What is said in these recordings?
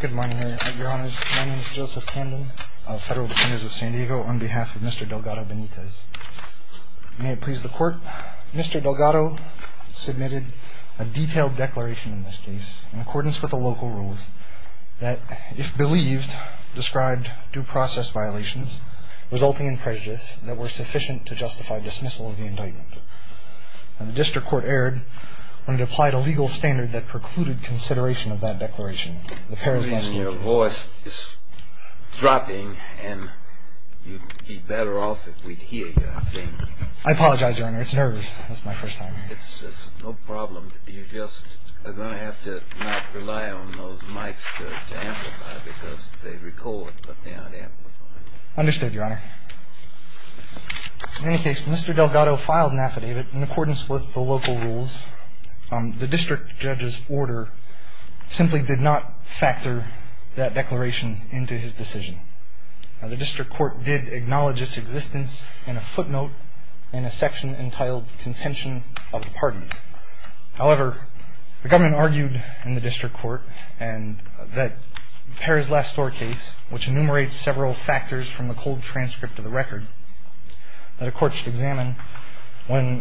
Good morning, Your Honors. My name is Joseph Camden, Federal Defendant of San Diego, on behalf of Mr. Delgado-Benitez. May it please the Court, Mr. Delgado submitted a detailed declaration in this case in accordance with the local rules that, if believed, described due process violations resulting in prejudice that were sufficient to justify dismissal of the indictment. The District Court erred when it applied a legal standard that precluded consideration of that declaration. Your voice is dropping, and you'd be better off if we'd hear you, I think. I apologize, Your Honor. It's nervous. It's my first time here. It's no problem. You're just going to have to not rely on those mics to amplify, because they record, but they aren't amplified. Understood, Your Honor. In any case, when Mr. Delgado filed an affidavit in accordance with the local rules, the District Judge's order simply did not factor that declaration into his decision. The District Court did acknowledge its existence in a footnote in a section entitled Contention of the Parties. However, the government argued in the District Court that the Perez-Lestor case, which enumerates several factors from the cold transcript of the record that a court should examine when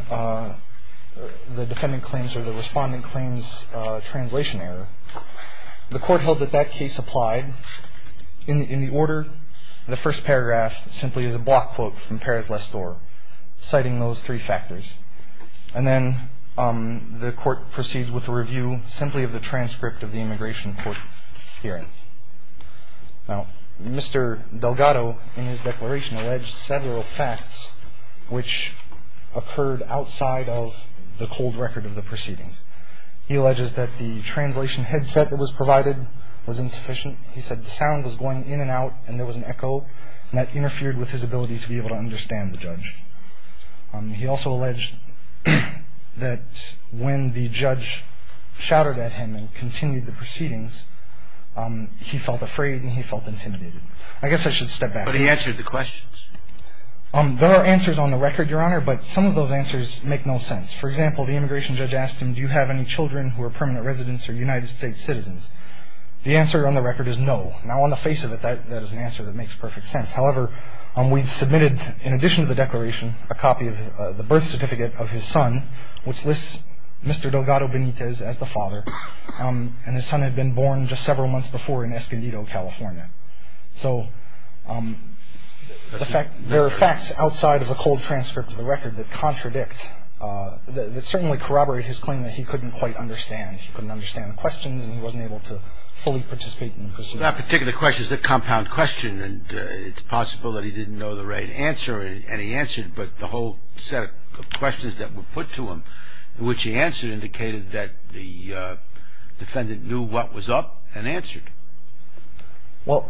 the defendant claims or the respondent claims a translation error, the court held that that case applied. In the order, the first paragraph simply is a block quote from Perez-Lestor citing those three factors. And then the court proceeds with a review simply of the transcript of the immigration court hearing. Now, Mr. Delgado in his declaration alleged several facts which occurred outside of the cold record of the proceedings. He alleges that the translation headset that was provided was insufficient. He said the sound was going in and out and there was an echo, and that interfered with his ability to be able to understand the judge. He also alleged that when the judge shouted at him and continued the proceedings, he felt afraid and he felt intimidated. I guess I should step back. But he answered the questions. There are answers on the record, Your Honor, but some of those answers make no sense. For example, the immigration judge asked him, do you have any children who are permanent residents or United States citizens? The answer on the record is no. Now, on the face of it, that is an answer that makes perfect sense. However, we submitted, in addition to the declaration, a copy of the birth certificate of his son, which lists Mr. Delgado Benitez as the father, and his son had been born just several months before in Escondido, California. So there are facts outside of the cold transcript of the record that contradict, that certainly corroborate his claim that he couldn't quite understand. He couldn't understand the questions and he wasn't able to fully participate in the proceedings. That particular question is a compound question and it's possible that he didn't know the right answer and he answered, but the whole set of questions that were put to him, which he answered, indicated that the defendant knew what was up and answered. Well,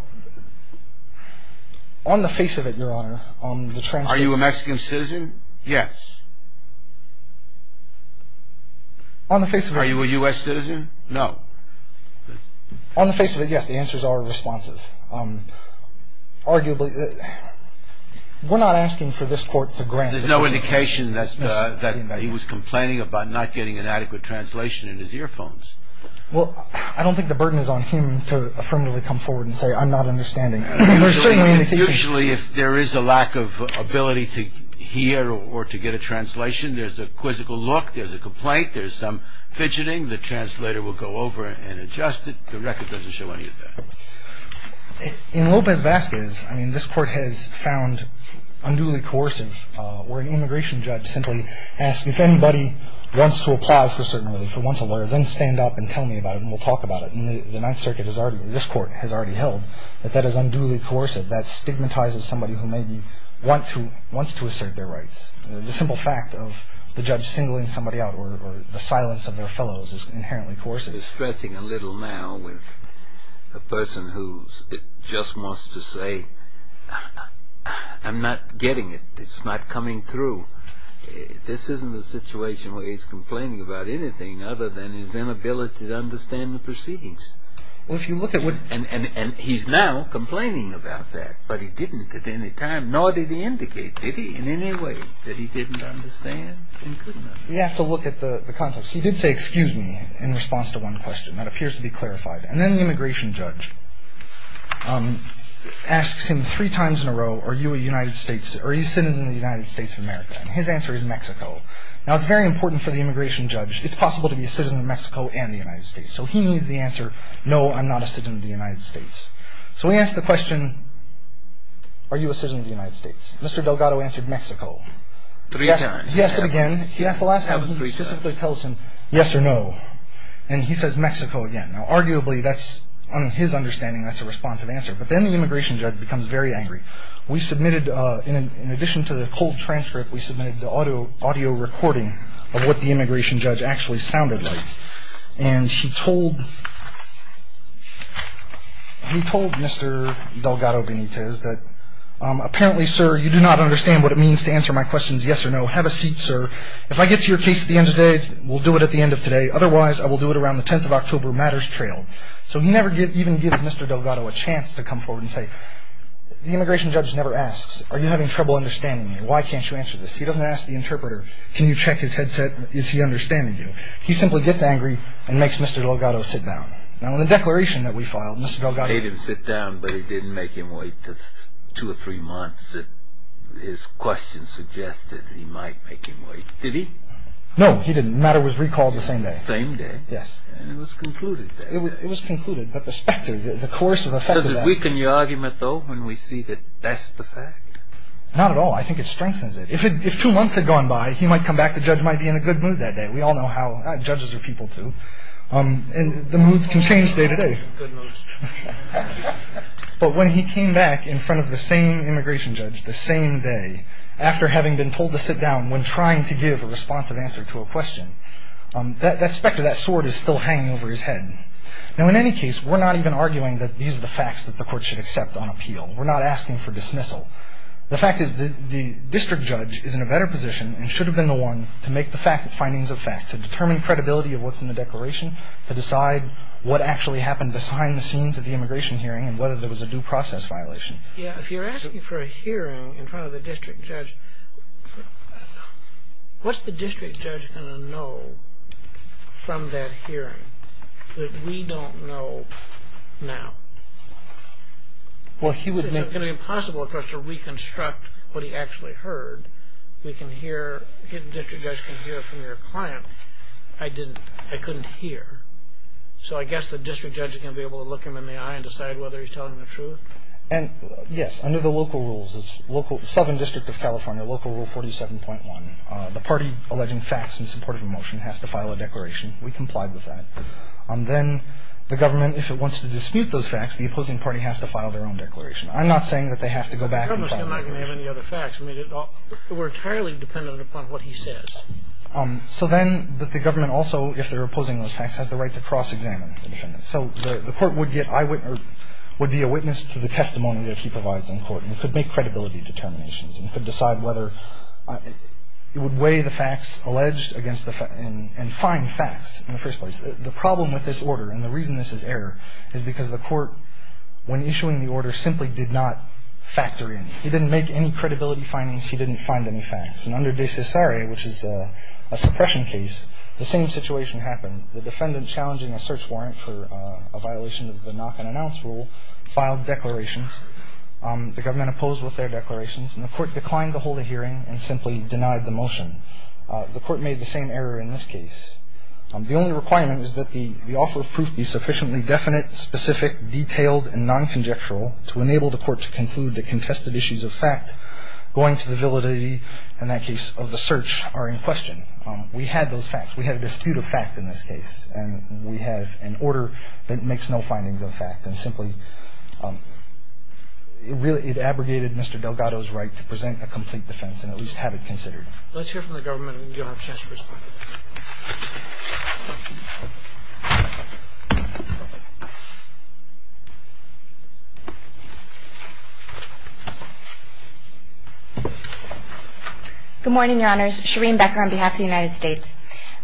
on the face of it, Your Honor, on the transcript... Are you a Mexican citizen? Yes. On the face of it... Are you a U.S. citizen? No. On the face of it, yes, the answers are responsive. Arguably... We're not asking for this Court to grant... There's no indication that he was complaining about not getting an adequate translation in his earphones. Well, I don't think the burden is on him to affirmatively come forward and say, I'm not understanding. Usually, if there is a lack of ability to hear or to get a translation, there's a quizzical look, there's a complaint, there's some fidgeting, and the translator will go over and adjust it. The record doesn't show any of that. In Lopez-Vazquez, I mean, this Court has found unduly coercive where an immigration judge simply asks, if anybody wants to apply for certain relief or wants a lawyer, then stand up and tell me about it and we'll talk about it. And the Ninth Circuit has already, this Court has already held that that is unduly coercive, that stigmatizes somebody who maybe wants to assert their rights. The simple fact of the judge singling somebody out or the silence of their fellows is inherently coercive. He's stretching a little now with a person who just wants to say, I'm not getting it, it's not coming through. This isn't a situation where he's complaining about anything other than his inability to understand the proceedings. Well, if you look at what... And he's now complaining about that, but he didn't at any time, nor did he indicate, did he, in any way that he didn't understand and couldn't understand. We have to look at the context. He did say, excuse me, in response to one question. That appears to be clarified. And then the immigration judge asks him three times in a row, are you a United States, are you a citizen of the United States of America? And his answer is Mexico. Now, it's very important for the immigration judge, it's possible to be a citizen of Mexico and the United States. So he needs the answer, no, I'm not a citizen of the United States. So we ask the question, are you a citizen of the United States? Mr. Delgado answered Mexico. Three times. He asked it again. He asked the last time, he basically tells him yes or no. And he says Mexico again. Now, arguably, that's, on his understanding, that's a responsive answer. But then the immigration judge becomes very angry. We submitted, in addition to the cold transcript, we submitted the audio recording of what the immigration judge actually sounded like. And he told Mr. Delgado Benitez that, apparently, sir, you do not understand what it means to answer my questions yes or no. Have a seat, sir. If I get to your case at the end of the day, we'll do it at the end of today. Otherwise, I will do it around the 10th of October matters trail. So he never even gives Mr. Delgado a chance to come forward and say, the immigration judge never asks, are you having trouble understanding me? Why can't you answer this? He doesn't ask the interpreter, can you check his headset? Is he understanding you? He simply gets angry and makes Mr. Delgado sit down. Now, in the declaration that we filed, Mr. Delgado- He made him sit down, but it didn't make him wait two or three months. His question suggested he might make him wait. Did he? No, he didn't. The matter was recalled the same day. The same day? Yes. And it was concluded that- It was concluded. But the specter, the course of effect of that- Does it weaken your argument, though, when we see that that's the fact? Not at all. I think it strengthens it. If two months had gone by, he might come back. The judge might be in a good mood that day. We all know how judges are people, too. And the moods can change day to day. But when he came back in front of the same immigration judge the same day, after having been told to sit down when trying to give a responsive answer to a question, that specter, that sword is still hanging over his head. Now, in any case, we're not even arguing that these are the facts that the court should accept on appeal. We're not asking for dismissal. The fact is the district judge is in a better position and should have been the one to make the findings of fact, to determine credibility of what's in the declaration, to decide what actually happened behind the scenes at the immigration hearing and whether there was a due process violation. Yeah. If you're asking for a hearing in front of the district judge, what's the district judge going to know from that hearing that we don't know now? Well, he would make- If the district judge can hear from your client, I couldn't hear. So I guess the district judge is going to be able to look him in the eye and decide whether he's telling the truth? Yes. Under the local rules, Southern District of California, Local Rule 47.1, the party alleging facts in support of a motion has to file a declaration. We complied with that. Then the government, if it wants to dispute those facts, the opposing party has to file their own declaration. I'm not saying that they have to go back and file a declaration. I'm not going to have any other facts. I mean, we're entirely dependent upon what he says. So then the government also, if they're opposing those facts, has the right to cross-examine the defendants. So the Court would get eyewitness or would be a witness to the testimony that he provides in court and could make credibility determinations and could decide whether it would weigh the facts alleged against the facts and find facts in the first place. The problem with this order and the reason this is error is because the Court, when issuing the order, simply did not factor in. He didn't make any credibility findings. He didn't find any facts. And under De Cesare, which is a suppression case, the same situation happened. The defendant challenging a search warrant for a violation of the knock-and-announce rule filed declarations. The government opposed with their declarations, and the Court declined to hold a hearing and simply denied the motion. The Court made the same error in this case. The only requirement is that the offer of proof be sufficiently definite, specific, detailed, and non-conjectural to enable the Court to conclude the contested issues of fact going to the validity, in that case, of the search are in question. We had those facts. We had a dispute of fact in this case, and we have an order that makes no findings of fact and simply really abrogated Mr. Delgado's right to present a complete defense and at least have it considered. Let's hear from the government, and you'll have a chance to respond. Good morning, Your Honors. Shereen Becker on behalf of the United States.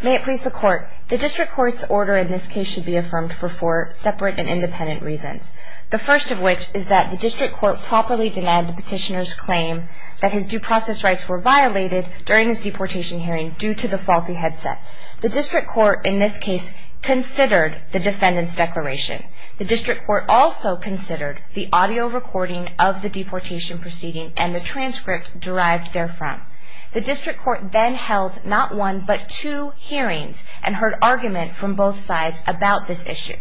May it please the Court. The district court's order in this case should be affirmed for four separate and independent reasons, the first of which is that the district court properly denied the petitioner's claim that his due process rights were violated during his deportation hearing due to the faulty headset. The district court in this case considered the defendant's declaration. The district court also considered the audio recording of the deportation proceeding and the transcript derived therefrom. The district court then held not one but two hearings and heard argument from both sides about this issue.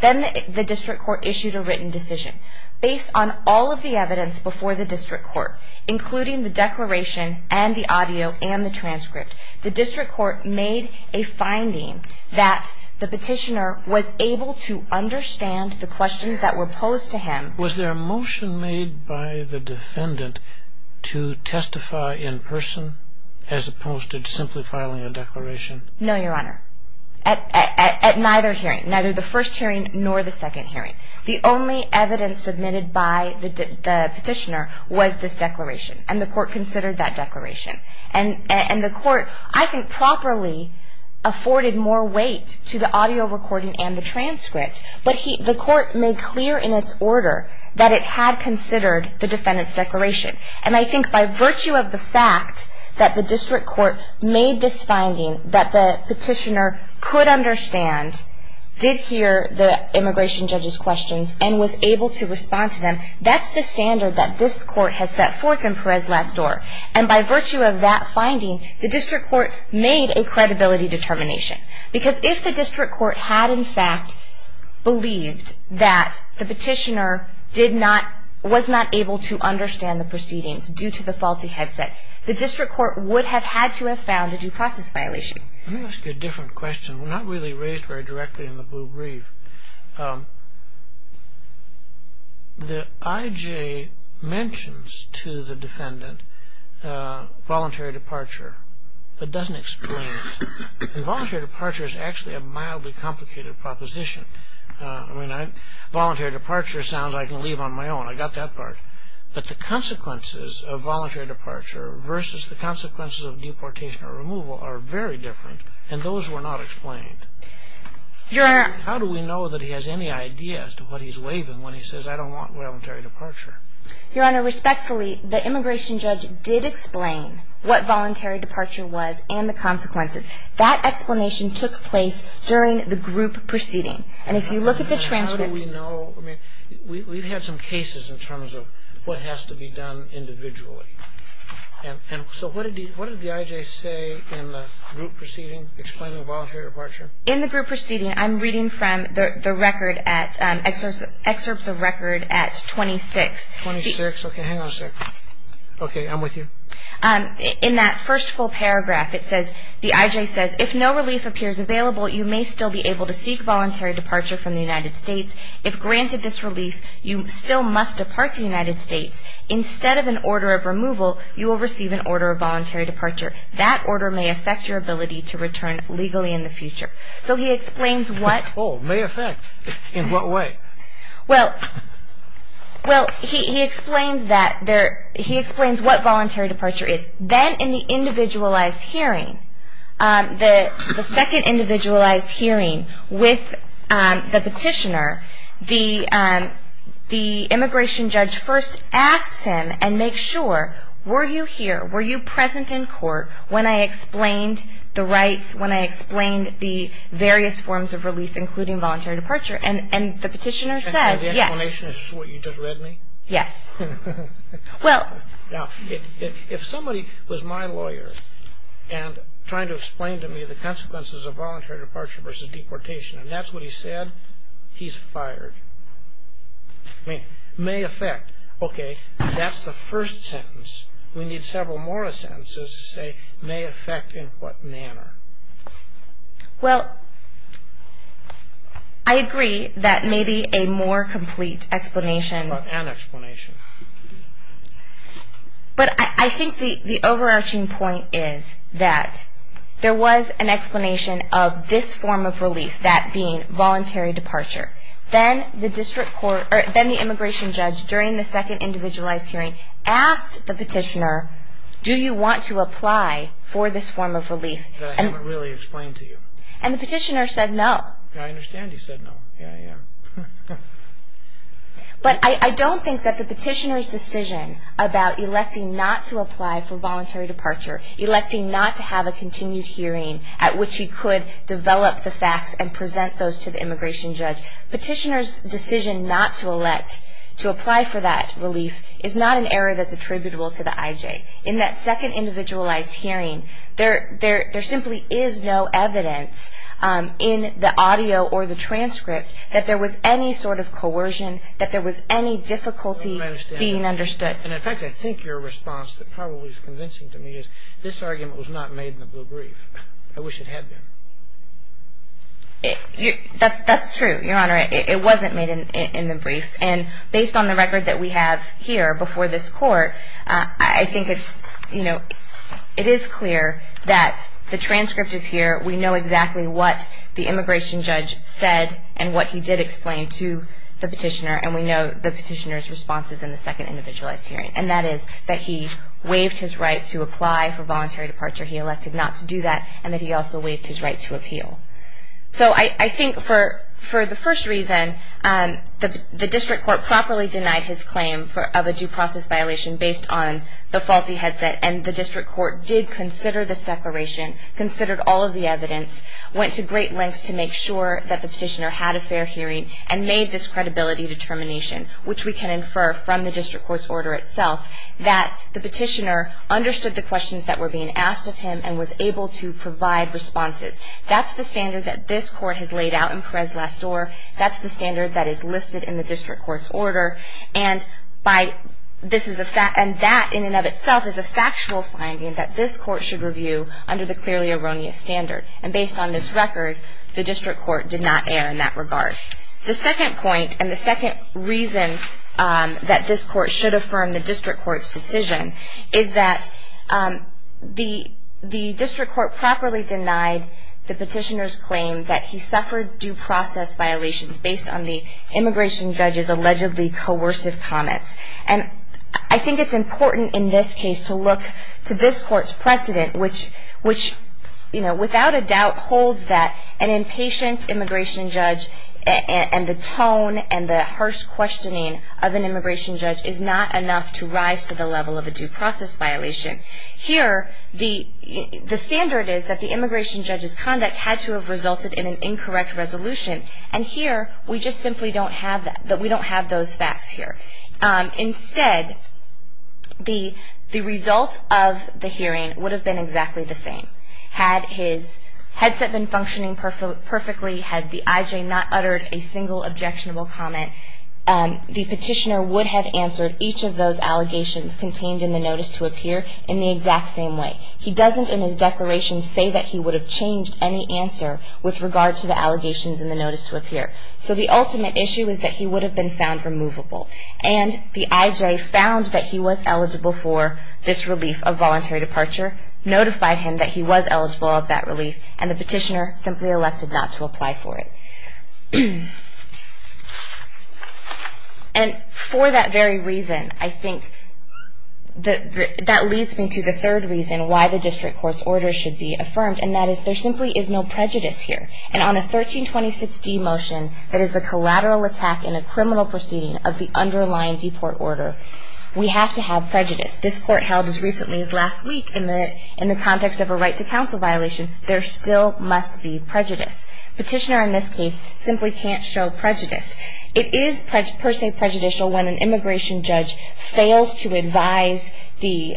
Then the district court issued a written decision. Based on all of the evidence before the district court, including the declaration and the audio and the transcript, the district court made a finding that the petitioner was able to understand the questions that were posed to him. Was there a motion made by the defendant to testify in person as opposed to simply filing a declaration? No, Your Honor. At neither hearing, neither the first hearing nor the second hearing. The only evidence submitted by the petitioner was this declaration and the court considered that declaration. And the court, I think, properly afforded more weight to the audio recording and the transcript, but the court made clear in its order that it had considered the defendant's declaration. And I think by virtue of the fact that the district court made this finding that the petitioner could understand, did hear the immigration judge's questions and was able to respond to them, that's the standard that this court has set forth in Perez Last Door. And by virtue of that finding, the district court made a credibility determination. Because if the district court had, in fact, believed that the petitioner was not able to understand the proceedings due to the faulty headset, the district court would have had to have found a due process violation. Let me ask you a different question, not really raised very directly in the blue brief. The I.J. mentions to the defendant voluntary departure, but doesn't explain it. Voluntary departure is actually a mildly complicated proposition. Voluntary departure sounds like I can leave on my own, I got that part. But the consequences of voluntary departure versus the consequences of deportation or removal are very different, and those were not explained. How do we know that he has any idea as to what he's waving when he says, I don't want voluntary departure? Your Honor, respectfully, the immigration judge did explain what voluntary departure was and the consequences. That explanation took place during the group proceeding. And if you look at the transcript... We've had some cases in terms of what has to be done individually. So what did the I.J. say in the group proceeding explaining voluntary departure? In the group proceeding, I'm reading from the record, excerpts of record at 26. Twenty-six? Okay, hang on a second. Okay, I'm with you. In that first full paragraph, it says, the I.J. says, If no relief appears available, you may still be able to seek voluntary departure from the United States. If granted this relief, you still must depart the United States. Instead of an order of removal, you will receive an order of voluntary departure. That order may affect your ability to return legally in the future. So he explains what... Oh, may affect. In what way? Well, he explains what voluntary departure is. Then in the individualized hearing, the second individualized hearing with the petitioner, the immigration judge first asks him and makes sure, were you here, were you present in court when I explained the rights, when I explained the various forms of relief, including voluntary departure? And the petitioner said, yes. So the explanation is what you just read me? Yes. Well... Now, if somebody was my lawyer and trying to explain to me the consequences of voluntary departure versus deportation, and that's what he said, he's fired. I mean, may affect. Okay, that's the first sentence. We need several more sentences to say may affect in what manner. Well, I agree that maybe a more complete explanation... An explanation. But I think the overarching point is that there was an explanation of this form of relief, that being voluntary departure. Then the immigration judge, during the second individualized hearing, asked the petitioner, do you want to apply for this form of relief? That I haven't really explained to you. And the petitioner said no. I understand he said no. Yeah, yeah. But I don't think that the petitioner's decision about electing not to apply for voluntary departure, electing not to have a continued hearing at which he could develop the facts and present those to the immigration judge, petitioner's decision not to apply for that relief is not an error that's attributable to the IJ. In that second individualized hearing, there simply is no evidence in the audio or the transcript that there was any sort of coercion, that there was any difficulty being understood. And, in fact, I think your response that probably is convincing to me is, this argument was not made in the blue brief. I wish it had been. That's true, Your Honor. It wasn't made in the brief. And based on the record that we have here before this court, I think it is clear that the transcript is here. We know exactly what the immigration judge said and what he did explain to the petitioner, and we know the petitioner's responses in the second individualized hearing, and that is that he waived his right to apply for voluntary departure. He elected not to do that, and that he also waived his right to appeal. So I think for the first reason, the district court properly denied his claim of a due process violation based on the faulty headset, and the district court did consider this declaration, considered all of the evidence, went to great lengths to make sure that the petitioner had a fair hearing, and made this credibility determination, which we can infer from the district court's order itself, that the petitioner understood the questions that were being asked of him and was able to provide responses. That's the standard that this court has laid out in Perez-Lastor, that's the standard that is listed in the district court's order, and that in and of itself is a factual finding that this court should review under the clearly erroneous standard. And based on this record, the district court did not err in that regard. The second point and the second reason that this court should affirm the district court's decision is that the district court properly denied the petitioner's claim that he suffered due process violations based on the immigration judge's allegedly coercive comments. And I think it's important in this case to look to this court's precedent, which without a doubt holds that an impatient immigration judge and the tone and the harsh questioning of an immigration judge is not enough to rise to the level of a due process violation. Here, the standard is that the immigration judge's conduct had to have resulted in an incorrect resolution, and here we just simply don't have those facts here. Instead, the result of the hearing would have been exactly the same. Had his headset been functioning perfectly, had the IJ not uttered a single objectionable comment, the petitioner would have answered each of those allegations contained in the notice to appear in the exact same way. He doesn't in his declaration say that he would have changed any answer with regard to the allegations in the notice to appear. So the ultimate issue is that he would have been found removable. And the IJ found that he was eligible for this relief of voluntary departure, notified him that he was eligible of that relief, and the petitioner simply elected not to apply for it. And for that very reason, I think, that leads me to the third reason why the district court's order should be affirmed, and that is there simply is no prejudice here. And on a 1326D motion that is a collateral attack in a criminal proceeding of the underlying deport order, we have to have prejudice. This court held as recently as last week in the context of a right to counsel violation, there still must be prejudice. Petitioner in this case simply can't show prejudice. It is per se prejudicial when an immigration judge fails to advise the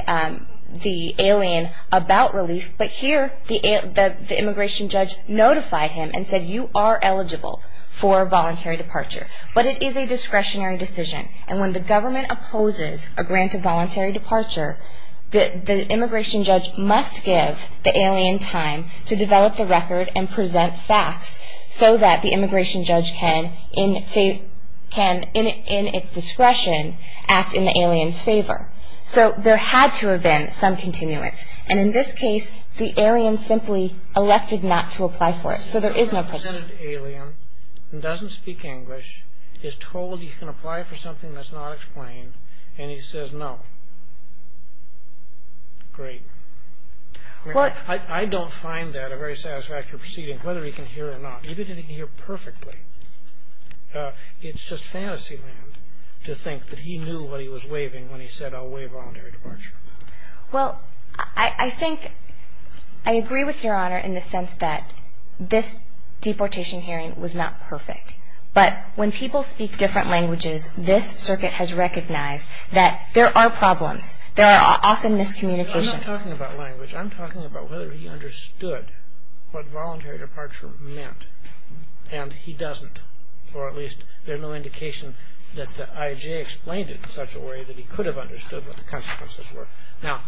alien about relief, but here the immigration judge notified him and said, you are eligible for voluntary departure. But it is a discretionary decision, and when the government opposes a grant of voluntary departure, the immigration judge must give the alien time to develop the record and present facts so that the immigration judge can, in its discretion, act in the alien's favor. So there had to have been some continuance. And in this case, the alien simply elected not to apply for it. So there is no prejudice. The alien doesn't speak English, is told he can apply for something that's not explained, and he says no. Great. I mean, I don't find that a very satisfactory proceeding, whether he can hear or not. Even if he can hear perfectly, it's just fantasy land to think that he knew what he was waiving when he said, I'll waive voluntary departure. Well, I think I agree with Your Honor in the sense that this deportation hearing was not perfect. But when people speak different languages, this circuit has recognized that there are problems. There are often miscommunications. I'm not talking about language. I'm talking about whether he understood what voluntary departure meant, and he doesn't, or at least there's no indication that the IJ explained it in such a way that he could have understood what the consequences were. Now,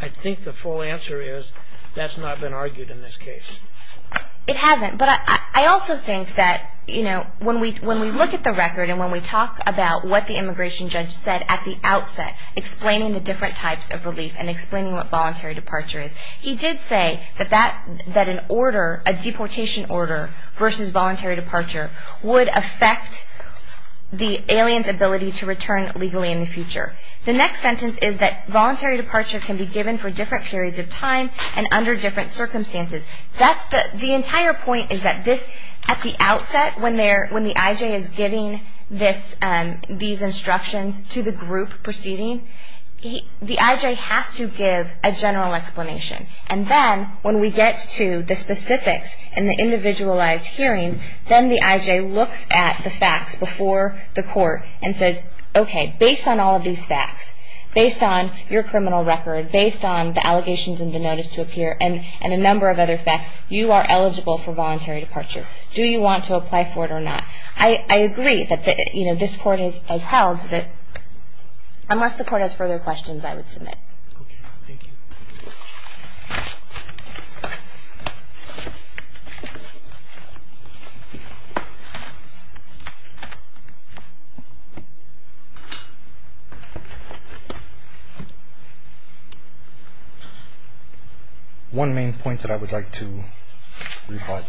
I think the full answer is that's not been argued in this case. It hasn't. But I also think that when we look at the record and when we talk about what the immigration judge said at the outset, explaining the different types of relief and explaining what voluntary departure is, he did say that an order, a deportation order, versus voluntary departure would affect the alien's ability to return legally in the future. The next sentence is that voluntary departure can be given for different periods of time and under different circumstances. The entire point is that this, at the outset, when the IJ is giving these instructions to the group proceeding, the IJ has to give a general explanation. And then when we get to the specifics and the individualized hearings, then the IJ looks at the facts before the court and says, okay, based on all of these facts, based on your criminal record, based on the allegations in the notice to appear and a number of other facts, you are eligible for voluntary departure. Do you want to apply for it or not? I agree that this court has held that unless the court has further questions, I would submit. Okay. Thank you. One main point that I would like to rebut,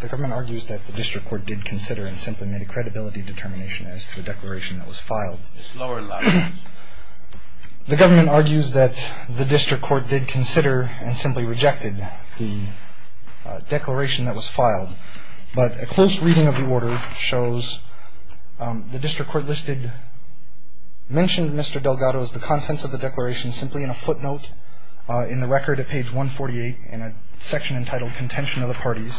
the government argues that the district court did consider and simply made a credibility determination as to the declaration that was filed. It's lower level. The government argues that the district court did consider and simply rejected the declaration that was filed. But a close reading of the order shows the district court listed, mentioned Mr. Delgado's, the contents of the declaration simply in a footnote in the record at page 148 in a section entitled contention of the parties.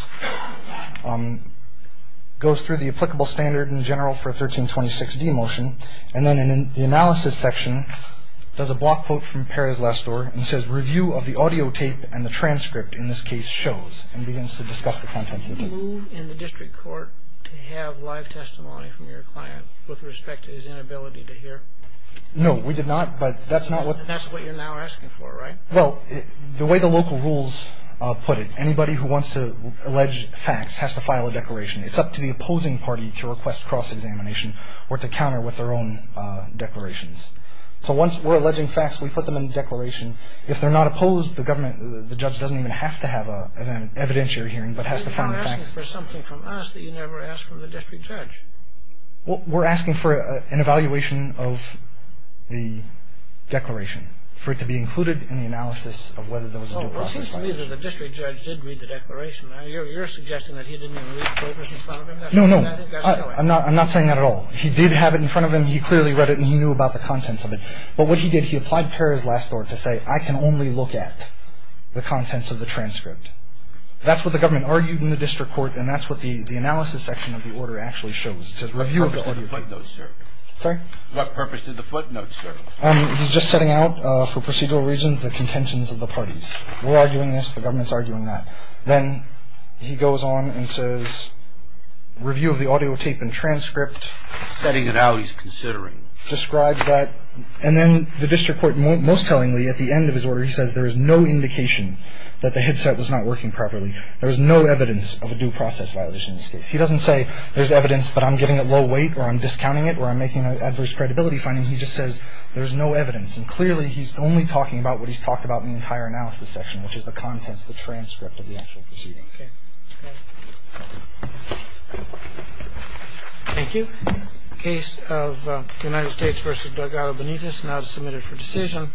Goes through the applicable standard in general for 1326D motion. And then in the analysis section does a block quote from Perez-Lestor and says review of the audio tape and the transcript in this case shows and begins to discuss the contents of it. Did you move in the district court to have live testimony from your client with respect to his inability to hear? No, we did not, but that's not what. And that's what you're now asking for, right? Well, the way the local rules put it, anybody who wants to allege facts has to file a declaration. It's up to the opposing party to request cross-examination or to counter with their own declarations. So once we're alleging facts, we put them in the declaration. If they're not opposed, the government, the judge doesn't even have to have an evidentiary hearing but has to find the facts. You're now asking for something from us that you never asked from the district judge. Well, we're asking for an evaluation of the declaration, for it to be included in the analysis of whether there was a dual process filing. Well, it seems to me that the district judge did read the declaration. Now, you're suggesting that he didn't even read the notice in front of him? No, no. I'm not saying that at all. He did have it in front of him. He clearly read it, and he knew about the contents of it. But what he did, he applied Paris last order to say, I can only look at the contents of the transcript. That's what the government argued in the district court, and that's what the analysis section of the order actually shows. It says review of the order. What purpose did the footnotes serve? Sorry? What purpose did the footnotes serve? He's just setting out for procedural reasons the contentions of the parties. We're arguing this. The government's arguing that. Then he goes on and says review of the audio tape and transcript. Setting it out, he's considering. Describes that. And then the district court, most tellingly, at the end of his order, he says there is no indication that the headset was not working properly. There is no evidence of a dual process violation in this case. He doesn't say there's evidence, but I'm giving it low weight, or I'm discounting it, or I'm making an adverse credibility finding. He just says there's no evidence. And clearly, he's only talking about what he's talked about in the entire analysis section, which is the contents, the transcript of the actual proceedings. Okay. Thank you. The case of the United States v. Delgado Benitez now is submitted for decision.